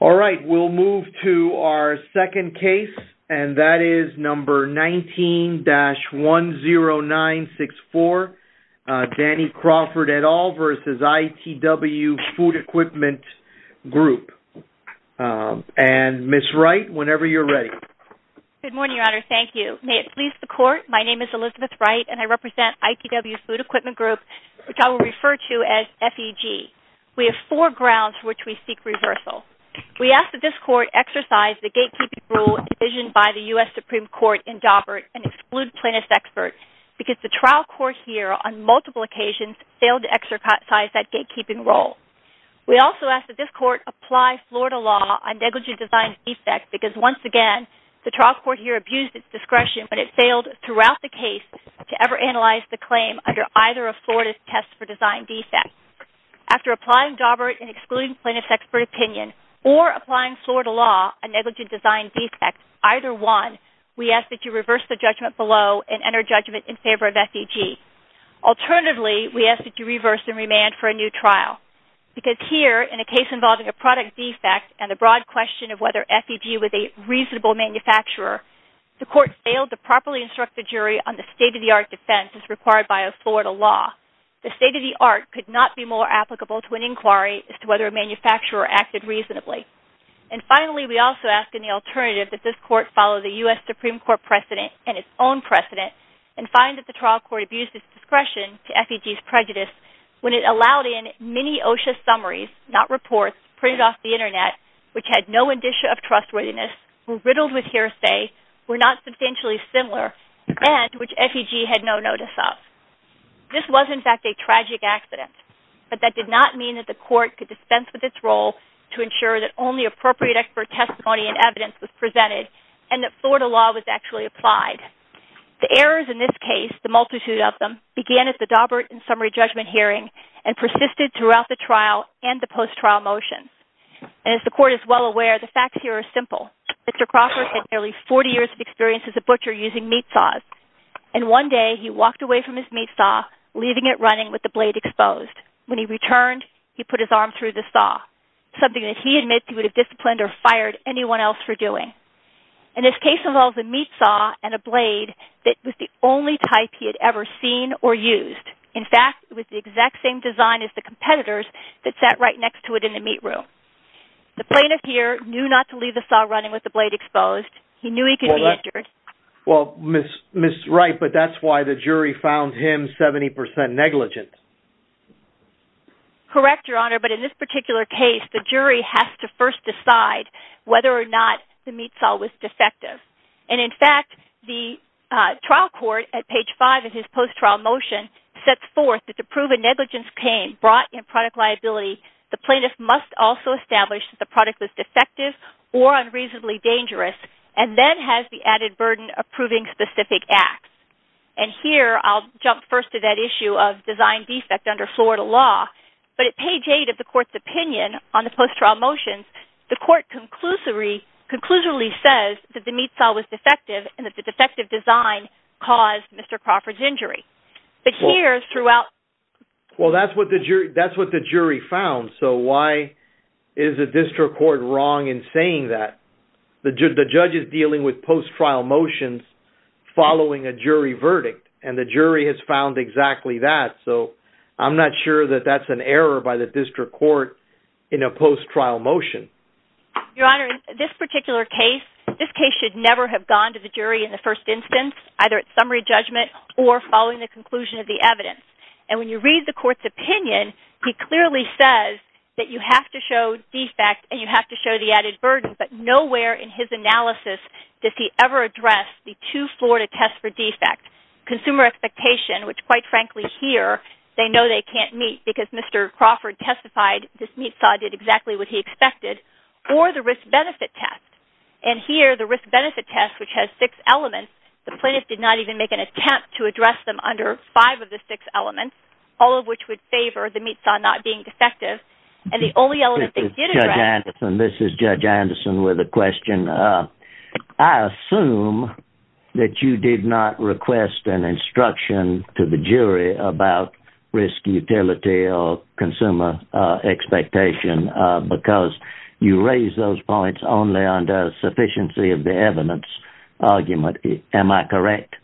All right, we'll move to our second case, and that is number 19-10964, Danny Crawford et al. v. ITW Food Equipment Group. And, Ms. Wright, whenever you're ready. Good morning, Your Honor. Thank you. May it please the Court, my name is Elizabeth Wright, and I represent ITW Food Equipment Group, which I will refer to as FEG. We have four grounds for which we seek reversal. We ask that this Court exercise the gatekeeping rule envisioned by the U.S. Supreme Court in Daubert and exclude plaintiffs' experts, because the trial court here, on multiple occasions, failed to exercise that gatekeeping rule. We also ask that this Court apply Florida law on negligent design defects, because, once again, the trial court here abused its discretion, but it failed throughout the case to ever analyze the claim under either of Florida's tests for design defects. After applying Daubert and excluding plaintiffs' expert opinion, or applying Florida law on negligent design defects, either one, we ask that you reverse the judgment below and enter judgment in favor of FEG. Alternatively, we ask that you reverse and remand for a new trial. Because here, in a case involving a product defect and the broad question of whether FEG was a reasonable manufacturer, the Court failed to properly instruct the jury on the state-of-the-art defense as required by a Florida law. The state-of-the-art could not be more applicable to an inquiry as to whether a manufacturer acted reasonably. And finally, we also ask, in the alternative, that this Court follow the U.S. Supreme Court precedent and its own precedent and find that the trial court abused its discretion to FEG's prejudice when it allowed in many OSHA summaries, not reports, printed off the Internet, which had no indicia of trustworthiness, were riddled with hearsay, were not substantially similar, and which FEG had no notice of. This was, in fact, a tragic accident. But that did not mean that the Court could dispense with its role to ensure that only appropriate expert testimony and evidence was presented and that Florida law was actually applied. The errors in this case, the multitude of them, began at the Daubert and summary judgment hearing and persisted throughout the trial and the post-trial motions. And as the Court is well aware, the facts here are simple. Mr. Crawford had nearly 40 years of experience as a butcher using meat saws. And one day, he walked away from his meat saw, leaving it running with the blade exposed. When he returned, he put his arm through the saw, something that he admits he would have disciplined or fired anyone else for doing. In this case involved a meat saw and a blade that was the only type he had ever seen or used. In fact, it was the exact same design as the competitor's that sat right next to it in the meat room. The plaintiff here knew not to leave the saw running with the blade exposed. He knew he could be injured. Well, Ms. Wright, but that's why the jury found him 70% negligent. Correct, Your Honor, but in this particular case, the jury has to first decide whether or not the meat saw was defective. And in fact, the trial court, at page 5 of his post-trial motion, sets forth that to prove a negligence came brought in product liability, the plaintiff must also establish that the product was defective or unreasonably dangerous and then has the added burden of proving specific acts. And here, I'll jump first to that issue of design defect under Florida law, but at page 8 of the court's opinion on the post-trial motions, the court conclusively says that the meat saw was defective and that the defective design caused Mr. Crawford's injury. But here, throughout... Well, that's what the jury found, so why is the district court wrong in saying that? The judge is dealing with post-trial motions following a jury verdict, and the jury has found exactly that, so I'm not sure that that's an error by the district court in a post-trial motion. Your Honor, in this particular case, this case should never have gone to the jury in the first instance, either at summary judgment or following the conclusion of the evidence. And when you read the court's opinion, he clearly says that you have to show defect and you have to show the added burden, but nowhere in his analysis does he ever address the two Florida tests for defect, consumer expectation, which, quite frankly, here, they know they can't meet because Mr. Crawford testified this meat saw did exactly what he expected, or the risk-benefit test. And here, the risk-benefit test, which has six elements, the plaintiff did not even make an attempt to address them under five of the six elements, all of which would favor the meat saw not being defective, and the only element they did address... This is Judge Anderson with a question. I assume that you did not request an instruction to the jury about risk utility or consumer expectation because you raised those points only under sufficiency of the evidence argument. Am I correct?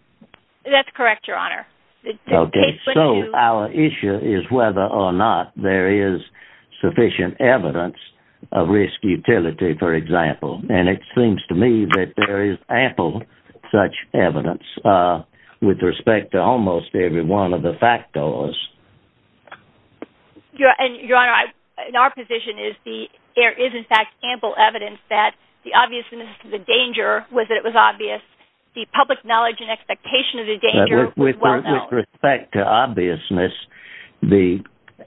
That's correct, Your Honor. Okay, so our issue is whether or not there is sufficient evidence of risk utility, for example, and it seems to me that there is ample such evidence with respect to almost every one of the factors. Your Honor, in our position, there is, in fact, ample evidence that the obviousness of the danger, whether it was obvious, the public knowledge and expectation of the danger was well known. With respect to obviousness, the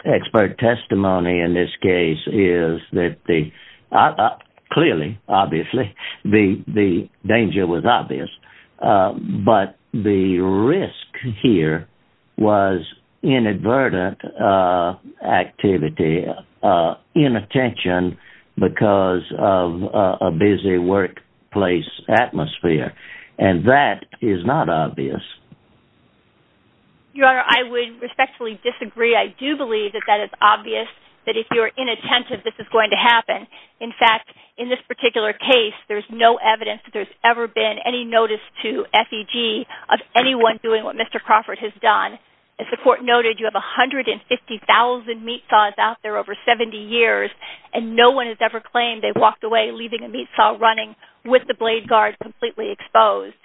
expert testimony in this case is that clearly, obviously, the danger was obvious, but the risk here was inadvertent activity, inattention because of a busy workplace atmosphere, and that is not obvious. Your Honor, I would respectfully disagree. I do believe that that is obvious, that if you're inattentive, this is going to happen. In fact, in this particular case, there's no evidence that there's ever been any notice to FEG of anyone doing what Mr. Crawford has done. As the court noted, you have 150,000 meat saws out there over 70 years, and no one has ever claimed they walked away leaving a meat saw running with the blade guard completely exposed.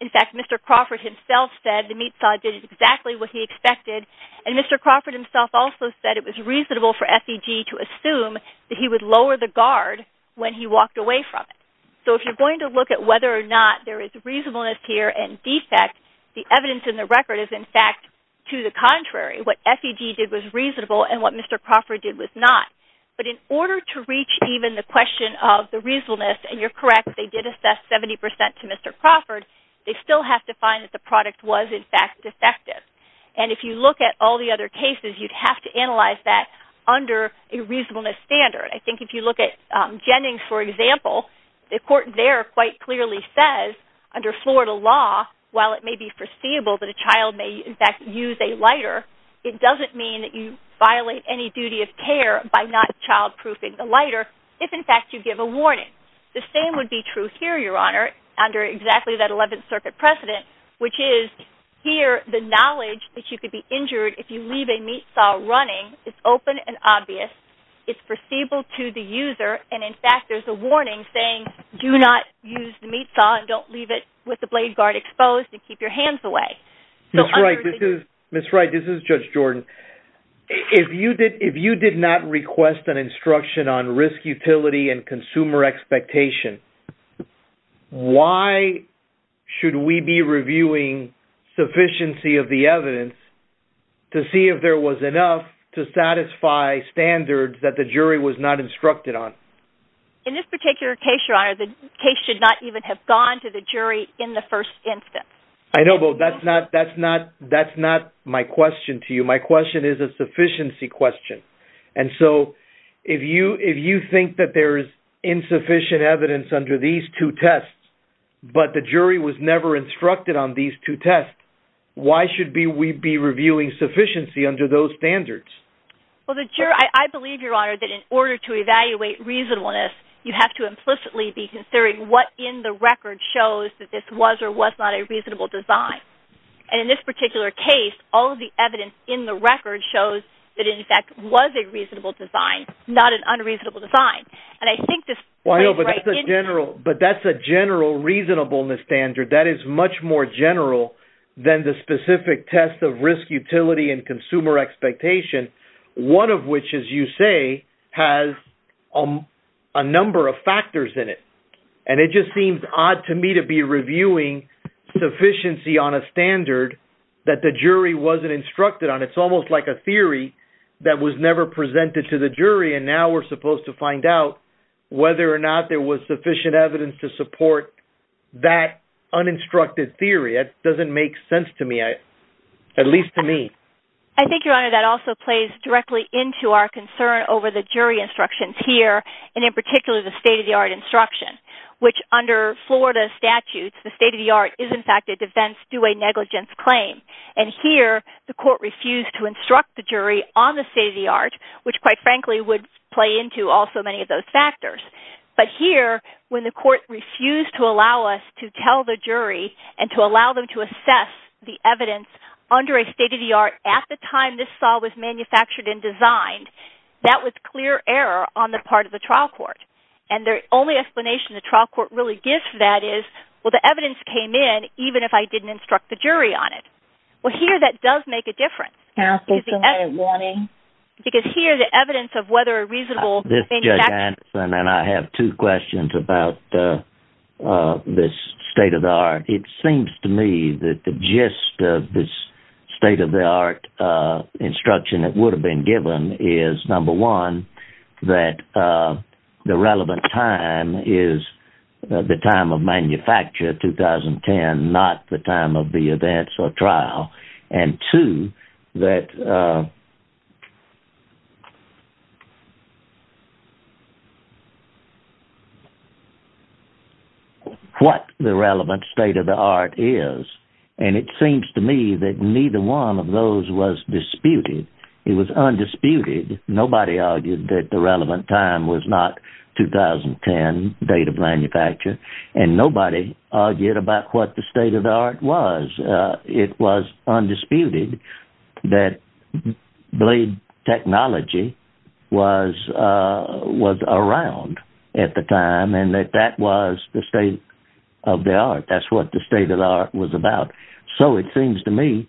In fact, Mr. Crawford himself said the meat saw did exactly what he expected, and Mr. Crawford himself also said it was reasonable for FEG to assume that he would lower the guard when he walked away from it. So if you're going to look at whether or not there is reasonableness here and defect, the evidence in the record is, in fact, to the contrary. What FEG did was reasonable, and what Mr. Crawford did was not. But in order to reach even the question of the reasonableness, and you're correct, they did assess 70% to Mr. Crawford, they still have to find that the product was, in fact, defective. And if you look at all the other cases, you'd have to analyze that under a reasonableness standard. I think if you look at Jennings, for example, the court there quite clearly says, under Florida law, while it may be foreseeable that a child may, in fact, use a lighter, it doesn't mean that you violate any duty of care by not childproofing the lighter if, in fact, you give a warning. The same would be true here, Your Honor, under exactly that 11th Circuit precedent, which is here the knowledge that you could be injured if you leave a meat saw running is open and obvious. It's foreseeable to the user, and, in fact, there's a warning saying, do not use the meat saw and don't leave it with the blade guard exposed and keep your hands away. Ms. Wright, this is Judge Jordan. If you did not request an instruction on risk utility and consumer expectation, why should we be reviewing sufficiency of the evidence to see if there was enough to satisfy standards that the jury was not instructed on? In this particular case, Your Honor, the case should not even have gone to the jury in the first instance. I know, but that's not my question to you. My question is a sufficiency question. And so if you think that there is insufficient evidence under these two tests, but the jury was never instructed on these two tests, why should we be reviewing sufficiency under those standards? Well, I believe, Your Honor, that in order to evaluate reasonableness, you have to implicitly be considering what in the record shows that this was or was not a reasonable design. And in this particular case, all of the evidence in the record shows that, in fact, it was a reasonable design, not an unreasonable design. And I think this plays right into that. Well, I know, but that's a general reasonableness standard. That is much more general than the specific test of risk utility and consumer expectation, one of which, as you say, has a number of factors in it. And it just seems odd to me to be reviewing sufficiency on a standard that the jury wasn't instructed on. It's almost like a theory that was never presented to the jury, and now we're supposed to find out whether or not there was sufficient evidence to support that uninstructed theory. That doesn't make sense to me, at least to me. I think, Your Honor, that also plays directly into our concern over the jury instructions here, and in particular the state-of-the-art instruction, which under Florida statutes, the state-of-the-art is, in fact, a defense due a negligence claim. And here, the court refused to instruct the jury on the state-of-the-art, which, quite frankly, would play into also many of those factors. But here, when the court refused to allow us to tell the jury and to allow them to assess the evidence under a state-of-the-art at the time this saw was manufactured and designed, that was clear error on the part of the trial court. And the only explanation the trial court really gives for that is, well, the evidence came in, even if I didn't instruct the jury on it. Well, here, that does make a difference. No, it doesn't, Ronnie. Because here, the evidence of whether a reasonable manufacturing... This is Judge Anson, and I have two questions about this state-of-the-art. It seems to me that the gist of this state-of-the-art instruction that would have been given is, number one, that the relevant time is the time of manufacture, 2010, not the time of the events or trial, and two, that what the relevant state-of-the-art is. And it seems to me that neither one of those was disputed. It was undisputed. Nobody argued that the relevant time was not 2010, date of manufacture, and nobody argued about what the state-of-the-art was. It was undisputed that blade technology was around at the time and that that was the state-of-the-art. That's what the state-of-the-art was about. So it seems to me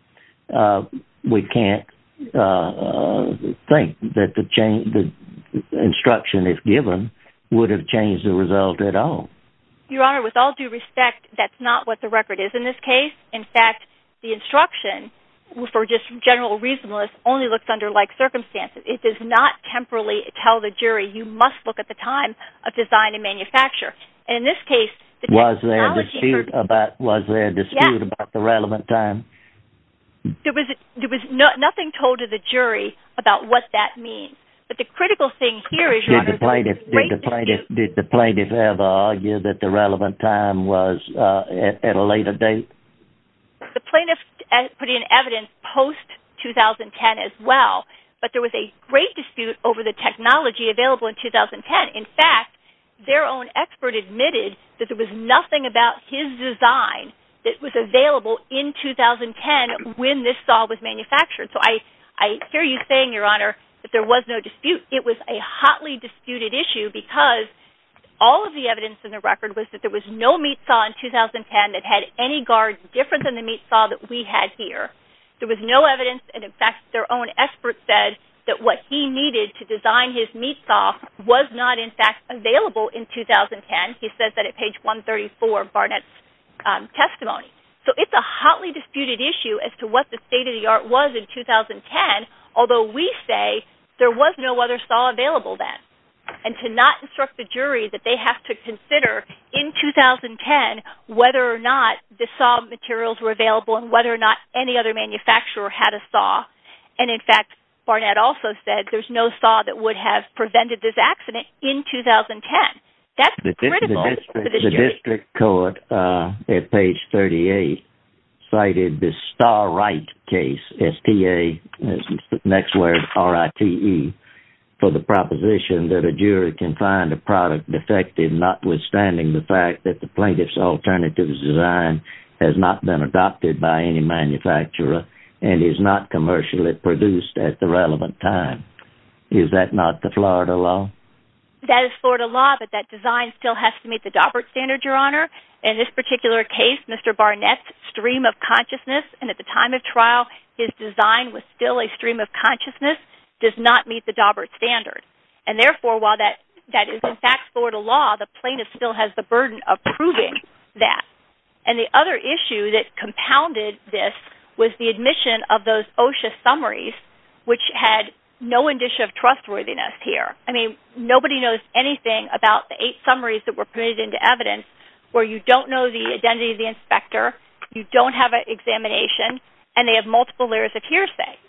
we can't think that the instruction, if given, would have changed the result at all. Your Honor, with all due respect, that's not what the record is in this case. In fact, the instruction for just general reasonableness only looks under like circumstances. It does not temporally tell the jury you must look at the time of design and manufacture. And in this case, the technology- Was there a dispute about the relevant time? There was nothing told to the jury about what that means. But the critical thing here is- Did the plaintiff ever argue that the relevant time was at a later date? The plaintiff put in evidence post-2010 as well, but there was a great dispute over the technology available in 2010. In fact, their own expert admitted that there was nothing about his design that was available in 2010 when this saw was manufactured. So I hear you saying, Your Honor, that there was no dispute. It was a hotly disputed issue because all of the evidence in the record was that there was no meat saw in 2010 that had any guard different than the meat saw that we had here. There was no evidence, and in fact, their own expert said that what he needed to design his meat saw was not, in fact, available in 2010. He says that at page 134 of Barnett's testimony. So it's a hotly disputed issue as to what the state of the art was in 2010, although we say there was no other saw available then, and to not instruct the jury that they have to consider in 2010 whether or not the saw materials were available and whether or not any other manufacturer had a saw. And in fact, Barnett also said there's no saw that would have prevented this accident in 2010. The district court at page 38 cited the Star-Rite case, S-T-A, next word, R-I-T-E, for the proposition that a jury can find a product defective notwithstanding the fact that the plaintiff's alternative design has not been adopted by any manufacturer and is not commercially produced at the relevant time. Is that not the Florida law? That is Florida law, but that design still has to meet the Daubert standard, Your Honor. In this particular case, Mr. Barnett's stream of consciousness, and at the time of trial, his design was still a stream of consciousness, does not meet the Daubert standard. And therefore, while that is, in fact, Florida law, the plaintiff still has the burden of proving that. And the other issue that compounded this was the admission of those OSHA summaries, which had no indicia of trustworthiness here. I mean, nobody knows anything about the eight summaries that were put into evidence where you don't know the identity of the inspector, you don't have an examination, and they have multiple layers of hearsay.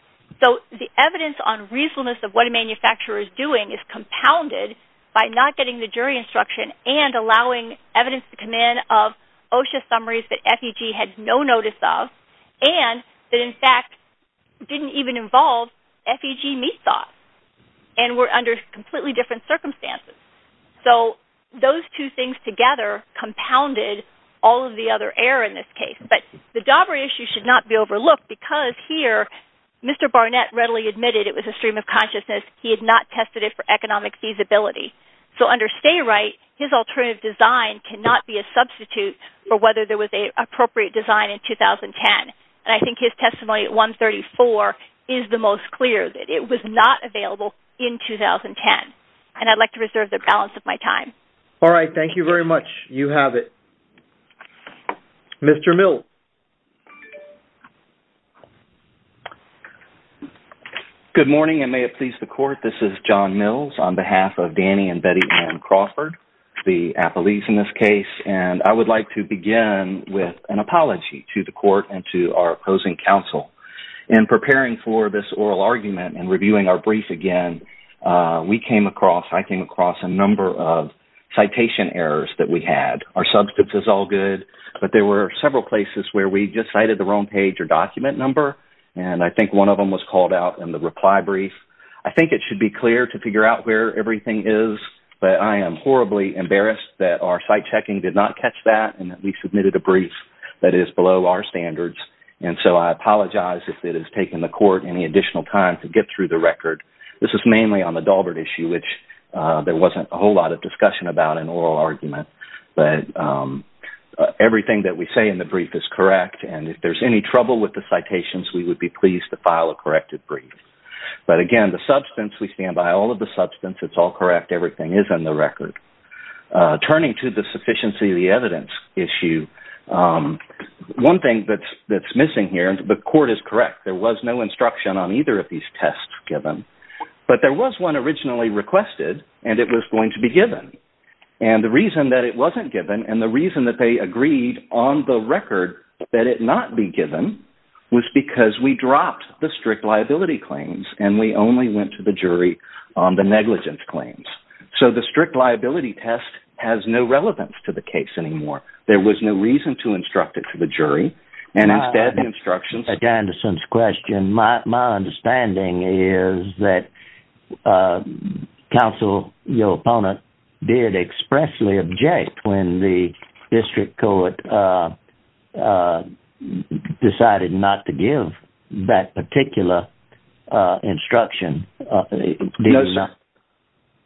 So the evidence on reasonableness of what a manufacturer is doing is compounded by not getting the jury instruction and allowing evidence to come in of OSHA summaries that FEG had no notice of and that, in fact, didn't even involve FEG meat sauce and were under completely different circumstances. So those two things together compounded all of the other error in this case. But the Daubert issue should not be overlooked because here, Mr. Barnett readily admitted it was a stream of consciousness. He had not tested it for economic feasibility. So under stay right, his alternative design cannot be a substitute for whether there was an appropriate design in 2010. And I think his testimony at 134 is the most clear that it was not available in 2010. And I'd like to reserve the balance of my time. All right, thank you very much. You have it. Good morning, and may it please the Court. This is John Mills on behalf of Danny and Betty Ann Crawford, the athletes in this case. And I would like to begin with an apology to the Court and to our opposing counsel. In preparing for this oral argument and reviewing our brief again, we came across, I came across a number of citation errors that we had. Our substance is all good, but there were several places where we just cited the wrong page or document number, and I think one of them was called out in the reply brief. I think it should be clear to figure out where everything is, but I am horribly embarrassed that our site checking did not catch that and that we submitted a brief that is below our standards. And so I apologize if it has taken the Court any additional time to get through the record. This is mainly on the Daubert issue, which there wasn't a whole lot of discussion about in oral argument. But everything that we say in the brief is correct, and if there's any trouble with the citations, we would be pleased to file a corrected brief. But again, the substance, we stand by all of the substance. It's all correct. Everything is in the record. Turning to the sufficiency of the evidence issue, one thing that's missing here, and the Court is correct, there was no instruction on either of these tests given, but there was one originally requested, and it was going to be given. And the reason that it wasn't given and the reason that they agreed on the record that it not be given was because we dropped the strict liability claims and we only went to the jury on the negligence claims. So the strict liability test has no relevance to the case anymore. There was no reason to instruct it to the jury, and instead the instructions. Back to Anderson's question, my understanding is that counsel, your opponent, did expressly object when the district court decided not to give that particular instruction.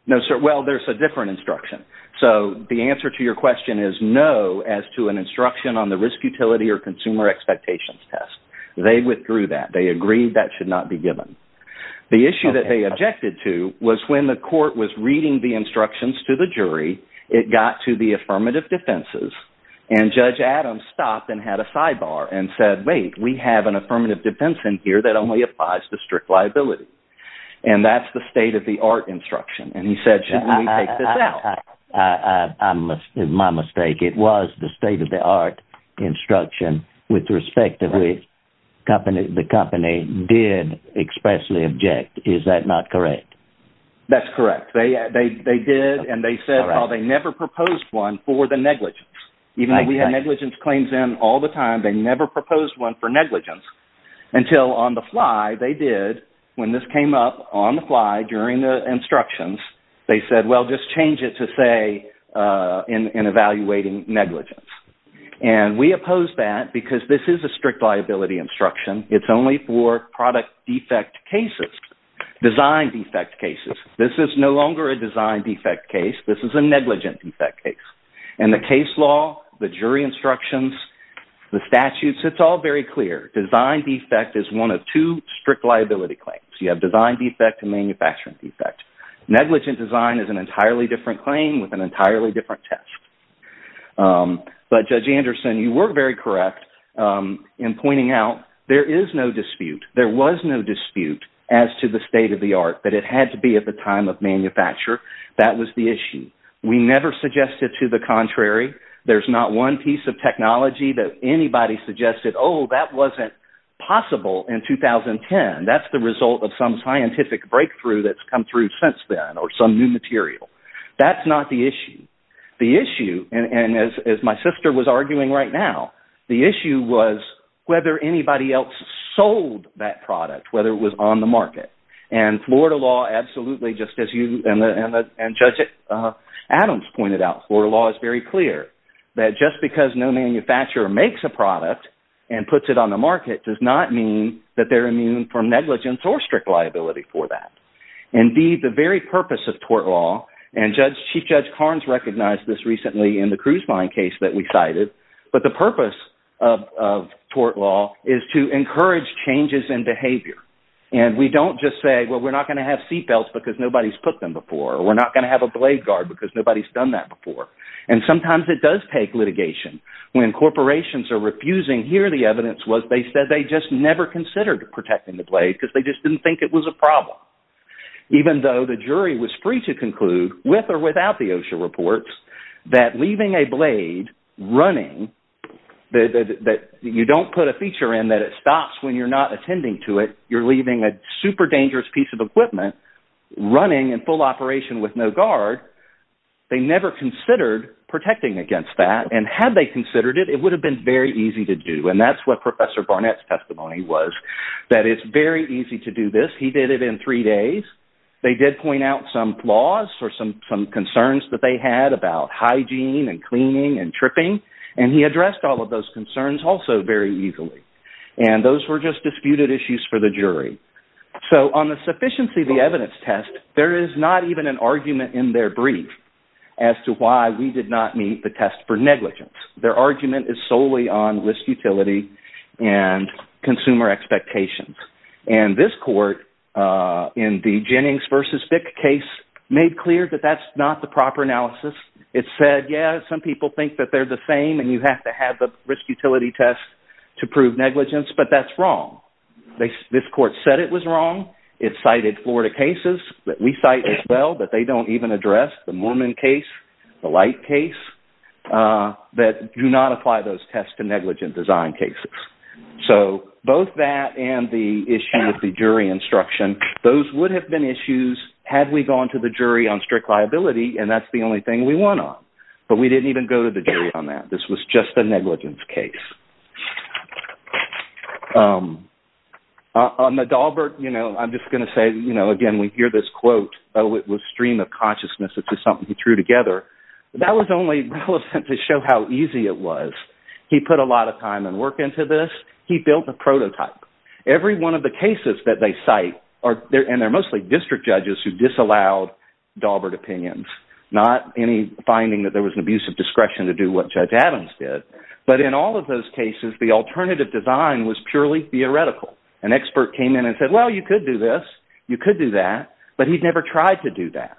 No, sir. Well, there's a different instruction. So the answer to your question is no as to an instruction on the risk utility or consumer expectations test. They withdrew that. They agreed that should not be given. The issue that they objected to was when the court was reading the instructions to the jury, it got to the affirmative defenses, and Judge Adams stopped and had a sidebar and said, wait, we have an affirmative defense in here that only applies to strict liability, and that's the state-of-the-art instruction. And he said, shouldn't we take this out? My mistake. It was the state-of-the-art instruction with respect to which the company did expressly object. Is that not correct? That's correct. They did, and they said, oh, they never proposed one for the negligence. Even though we have negligence claims in all the time, they never proposed one for negligence until on the fly they did when this came up on the fly during the instructions. They said, well, just change it to say in evaluating negligence. And we opposed that because this is a strict liability instruction. It's only for product defect cases, design defect cases. This is no longer a design defect case. This is a negligent defect case. And the case law, the jury instructions, the statutes, it's all very clear. Design defect is one of two strict liability claims. You have design defect and manufacturing defect. Negligent design is an entirely different claim with an entirely different test. But, Judge Anderson, you were very correct in pointing out there is no dispute. There was no dispute as to the state-of-the-art that it had to be at the time of manufacture. That was the issue. We never suggested to the contrary. There's not one piece of technology that anybody suggested, oh, that wasn't possible in 2010. That's the result of some scientific breakthrough that's come through since then or some new material. That's not the issue. The issue, and as my sister was arguing right now, the issue was whether anybody else sold that product, whether it was on the market. And Florida law absolutely, just as you and Judge Adams pointed out, Florida law is very clear that just because no manufacturer makes a product and puts it on the market does not mean that they're immune from negligence or strict liability for that. Indeed, the very purpose of tort law, and Chief Judge Carnes recognized this recently in the cruise line case that we cited, but the purpose of tort law is to encourage changes in behavior. And we don't just say, well, we're not going to have seatbelts because nobody's put them before, or we're not going to have a blade guard because nobody's done that before. And sometimes it does take litigation. When corporations are refusing, here the evidence was they said they just never considered protecting the blade because they just didn't think it was a problem, even though the jury was free to conclude, with or without the OSHA reports, that leaving a blade running, that you don't put a feature in that it stops when you're not attending to it, you're leaving a super dangerous piece of equipment running in full operation with no guard, they never considered protecting against that. And had they considered it, it would have been very easy to do. And that's what Professor Barnett's testimony was, that it's very easy to do this. He did it in three days. They did point out some flaws or some concerns that they had about hygiene and cleaning and tripping, and he addressed all of those concerns also very easily. And those were just disputed issues for the jury. So on the sufficiency of the evidence test, there is not even an argument in their brief as to why we did not meet the test for negligence. Their argument is solely on risk utility and consumer expectations. And this court, in the Jennings v. Fick case, made clear that that's not the proper analysis. It said, yeah, some people think that they're the same and you have to have the risk utility test to prove negligence, but that's wrong. This court said it was wrong. It cited Florida cases that we cite as well that they don't even address, the Moorman case, the Light case, that do not apply those tests to negligent design cases. So both that and the issue with the jury instruction, those would have been issues had we gone to the jury on strict liability, and that's the only thing we went on. But we didn't even go to the jury on that. This was just a negligence case. On the Daubert, you know, I'm just going to say, you know, again, we hear this quote, oh, it was stream of consciousness, which is something he threw together. That was only relevant to show how easy it was. He put a lot of time and work into this. He built a prototype. Every one of the cases that they cite, and they're mostly district judges who disallowed Daubert opinions, not any finding that there was an abuse of discretion to do what Judge Adams did. But in all of those cases, the alternative design was purely theoretical. An expert came in and said, well, you could do this. You could do that. But he'd never tried to do that.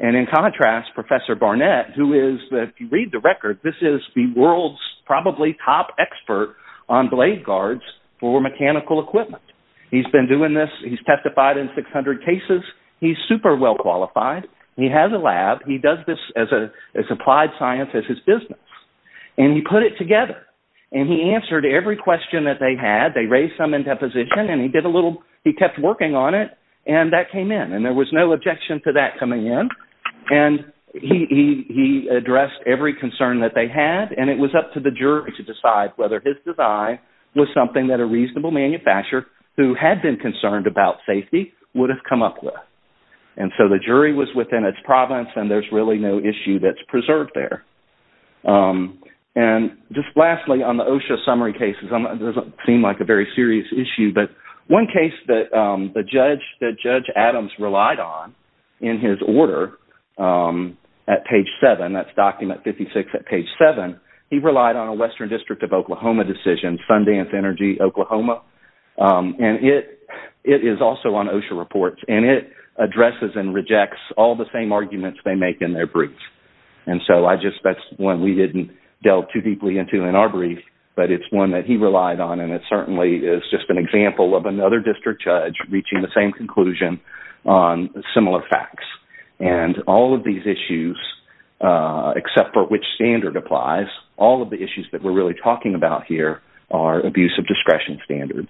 And in contrast, Professor Barnett, who is, if you read the record, this is the world's probably top expert on blade guards for mechanical equipment. He's been doing this. He's testified in 600 cases. He's super well qualified. He has a lab. He does this as applied science as his business. And he put it together. And he answered every question that they had. They raised some in deposition. And he kept working on it. And that came in. And there was no objection to that coming in. And he addressed every concern that they had. And it was up to the jury to decide whether his design was something that a reasonable manufacturer who had been concerned about safety would have come up with. And so the jury was within its province, and there's really no issue that's preserved there. And just lastly, on the OSHA summary cases, it doesn't seem like a very serious issue, but one case that Judge Adams relied on in his order at page 7, that's document 56 at page 7, he relied on a Western District of Oklahoma decision, Sundance Energy, Oklahoma. And it is also on OSHA reports. And it addresses and rejects all the same arguments they make in their briefs. And so that's one we didn't delve too deeply into in our brief. But it's one that he relied on, and it certainly is just an example of another district judge reaching the same conclusion on similar facts. And all of these issues, except for which standard applies, all of the issues that we're really talking about here are abuse of discretion standards.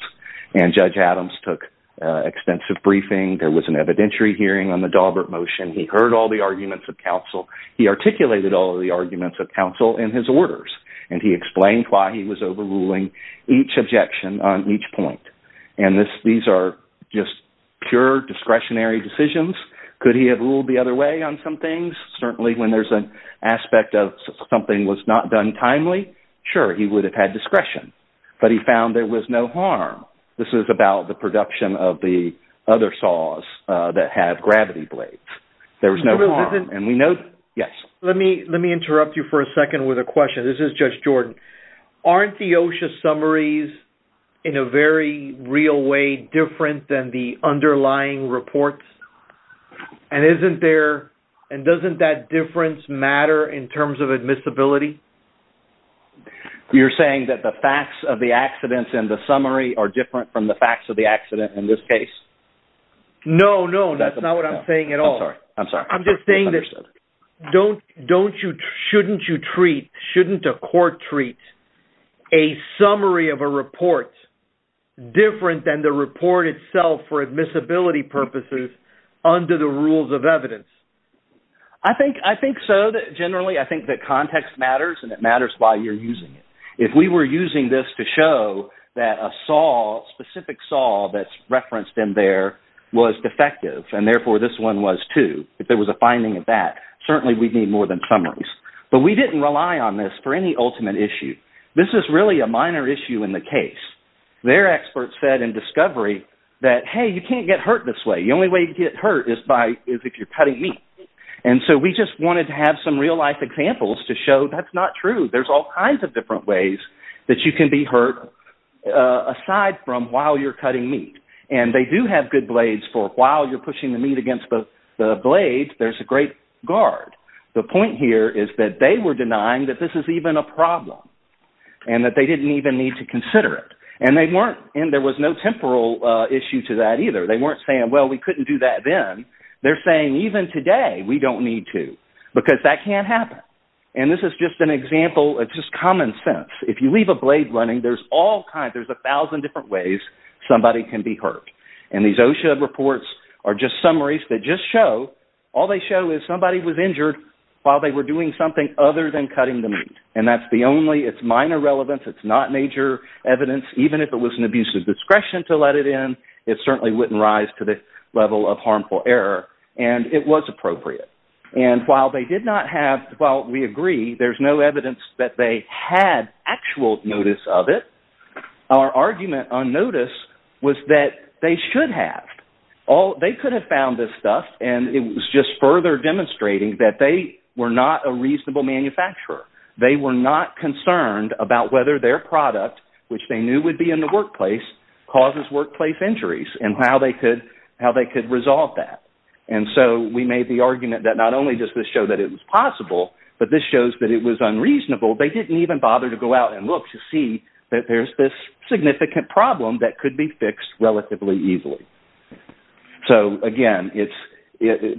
And Judge Adams took extensive briefing. There was an evidentiary hearing on the Daubert motion. He heard all the arguments of counsel. He articulated all of the arguments of counsel in his orders. And he explained why he was overruling each objection on each point. And these are just pure discretionary decisions. Could he have ruled the other way on some things? Certainly when there's an aspect of something was not done timely, sure, he would have had discretion. But he found there was no harm. This is about the production of the other saws that have gravity blades. There was no harm. Let me interrupt you for a second with a question. This is Judge Jordan. Aren't the OSHA summaries in a very real way different than the underlying reports? And doesn't that difference matter in terms of admissibility? You're saying that the facts of the accidents in the summary are different from the facts of the accident in this case? No, no, that's not what I'm saying at all. I'm sorry. I'm just saying that shouldn't a court treat a summary of a report different than the report itself for admissibility purposes under the rules of evidence? I think so. Generally, I think that context matters and it matters why you're using it. If we were using this to show that a specific saw that's referenced in there was defective and therefore this one was too, if there was a finding of that, certainly we'd need more than summaries. But we didn't rely on this for any ultimate issue. This is really a minor issue in the case. Their experts said in discovery that, hey, you can't get hurt this way. The only way to get hurt is if you're cutting meat. And so we just wanted to have some real-life examples to show that's not true. There's all kinds of different ways that you can be hurt aside from while you're cutting meat. And they do have good blades for while you're pushing the meat against the blades, there's a great guard. The point here is that they were denying that this is even a problem and that they didn't even need to consider it. And there was no temporal issue to that either. They weren't saying, well, we couldn't do that then. They're saying even today we don't need to because that can't happen. And this is just an example of just common sense. If you leave a blade running, there's all kinds, there's a thousand different ways somebody can be hurt. And these OSHA reports are just summaries that just show, all they show is somebody was injured while they were doing something other than cutting the meat. And that's the only, it's minor relevance, it's not major evidence. Even if it was an abuse of discretion to let it in, it certainly wouldn't rise to the level of harmful error. And it was appropriate. And while they did not have, while we agree there's no evidence that they had actual notice of it, our argument on notice was that they should have. They could have found this stuff, and it was just further demonstrating that they were not a reasonable manufacturer. They were not concerned about whether their product, which they knew would be in the workplace, causes workplace injuries and how they could resolve that. And so we made the argument that not only does this show that it was possible, but this shows that it was unreasonable. They didn't even bother to go out and look to see that there's this significant problem that could be fixed relatively easily. So again, it's,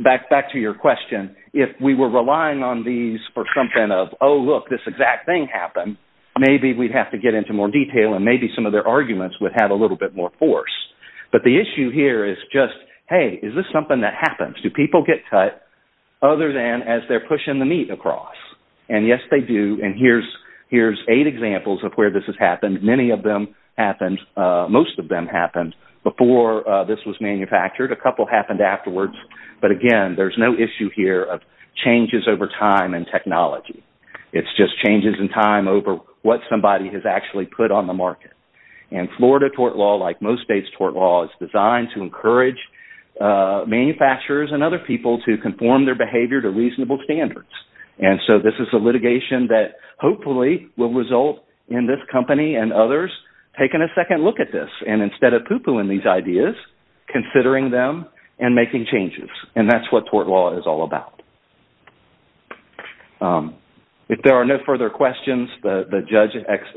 back to your question, if we were relying on these for something of, oh look, this exact thing happened, maybe we'd have to get into more detail, and maybe some of their arguments would have a little bit more force. But the issue here is just, hey, is this something that happens? Do people get cut other than as they're pushing the meat across? And yes, they do. And here's eight examples of where this has happened. Many of them happened, most of them happened, before this was manufactured. A couple happened afterwards. But again, there's no issue here of changes over time and technology. It's just changes in time over what somebody has actually put on the market. And Florida tort law, like most states' tort law, is designed to encourage manufacturers and other people to conform their behavior to reasonable standards. And so this is a litigation that hopefully will result in this company and others taking a second look at this, and instead of pooh-poohing these ideas, considering them and making changes. And that's what tort law is all about. If there are no further questions, the judge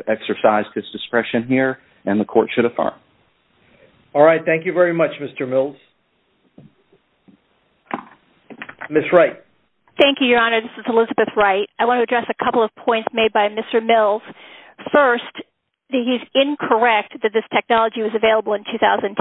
exercised his discretion here, and the court should affirm. All right. Thank you very much, Mr. Mills. Ms. Wright. Thank you, Your Honor. This is Elizabeth Wright. I want to address a couple of points made by Mr. Mills. First, he's incorrect that this technology was available in 2010.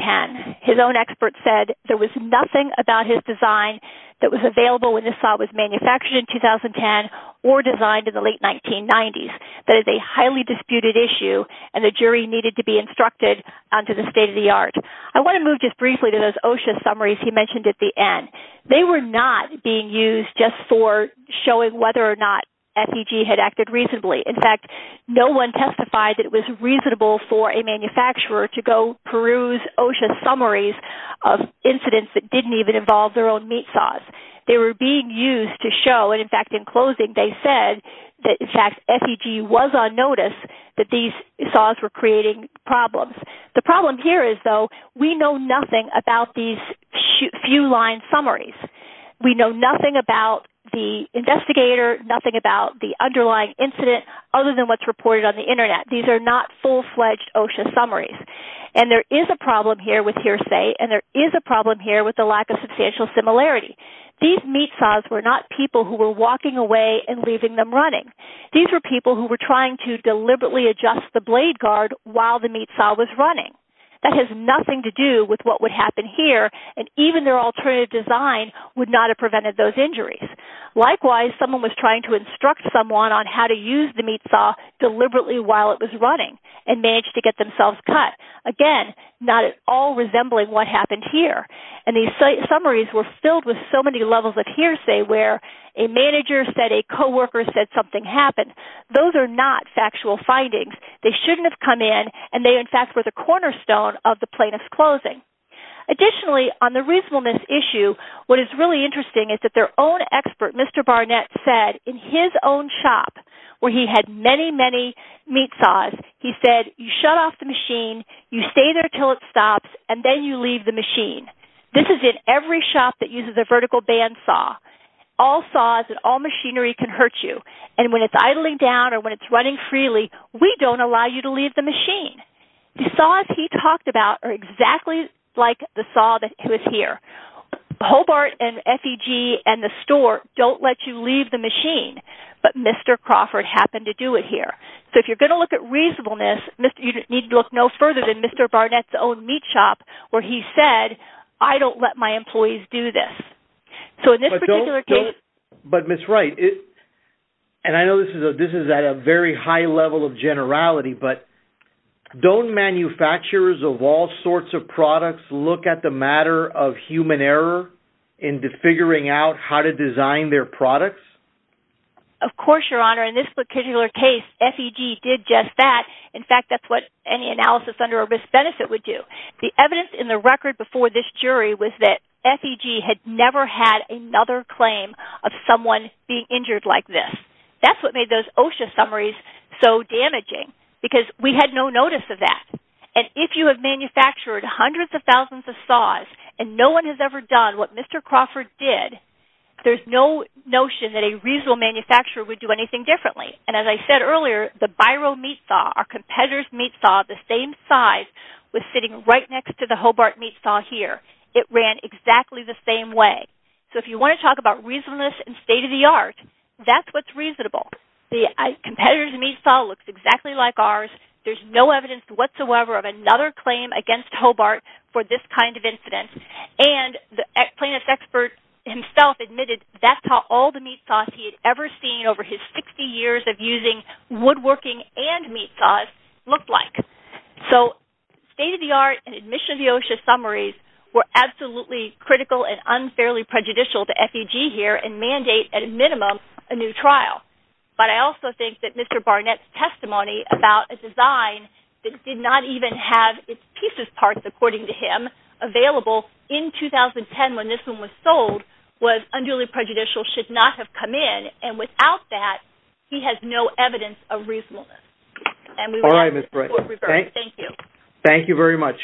His own expert said there was nothing about his design that was available when this saw was manufactured in 2010 or designed in the late 1990s. That is a highly disputed issue, and the jury needed to be instructed on to the state of the art. I want to move just briefly to those OSHA summaries he mentioned at the end. They were not being used just for showing whether or not FEG had acted reasonably. In fact, no one testified that it was reasonable for a manufacturer to go peruse OSHA summaries of incidents that didn't even involve their own meat saws. They were being used to show, and, in fact, in closing, they said that, in fact, FEG was on notice that these saws were creating problems. The problem here is, though, we know nothing about these few-line summaries. We know nothing about the investigator, nothing about the underlying incident, other than what's reported on the Internet. These are not full-fledged OSHA summaries. And there is a problem here with hearsay, and there is a problem here with the lack of substantial similarity. These meat saws were not people who were walking away and leaving them running. These were people who were trying to deliberately adjust the blade guard while the meat saw was running. That has nothing to do with what would happen here, and even their alternative design would not have prevented those injuries. Likewise, someone was trying to instruct someone on how to use the meat saw deliberately while it was running and managed to get themselves cut. Again, not at all resembling what happened here. And these summaries were filled with so many levels of hearsay where a manager said a co-worker said something happened. Those are not factual findings. They shouldn't have come in, and they, in fact, were the cornerstone of the plaintiff's closing. Additionally, on the reasonableness issue, what is really interesting is that their own expert, Mr. Barnett, said in his own shop, where he had many, many meat saws, he said, you shut off the machine, you stay there until it stops, and then you leave the machine. This is in every shop that uses a vertical band saw. All saws and all machinery can hurt you, and when it's idling down or when it's running freely, we don't allow you to leave the machine. The saws he talked about are exactly like the saw that was here. Hobart and FEG and the store don't let you leave the machine, but Mr. Crawford happened to do it here. So if you're going to look at reasonableness, you need to look no further than Mr. Barnett's own meat shop, where he said, I don't let my employees do this. But, Ms. Wright, and I know this is at a very high level of generality, but don't manufacturers of all sorts of products look at the matter of human error into figuring out how to design their products? Of course, Your Honor. In this particular case, FEG did just that. In fact, that's what any analysis under a risk-benefit would do. The evidence in the record before this jury was that FEG had never had another claim of someone being injured like this. That's what made those OSHA summaries so damaging, because we had no notice of that. And if you have manufactured hundreds of thousands of saws and no one has ever done what Mr. Crawford did, there's no notion that a reasonable manufacturer would do anything differently. And as I said earlier, the Biro meat saw, our competitor's meat saw, the same size was sitting right next to the Hobart meat saw here. It ran exactly the same way. So if you want to talk about reasonableness and state-of-the-art, that's what's reasonable. The competitor's meat saw looks exactly like ours. There's no evidence whatsoever of another claim against Hobart for this kind of incident. And the plaintiff's expert himself admitted that's how all the meat saws he had ever seen over his 60 years of using woodworking and meat saws looked like. So state-of-the-art and admission of the OSHA summaries were absolutely critical and unfairly prejudicial to FEG here and mandate, at a minimum, a new trial. But I also think that Mr. Barnett's testimony about a design that did not even have its pieces parked, according to him, available in 2010 when this one was sold, was unduly prejudicial, should not have come in. And without that, he has no evidence of reasonableness. All right, Ms. Bright. Thank you. Thank you very much.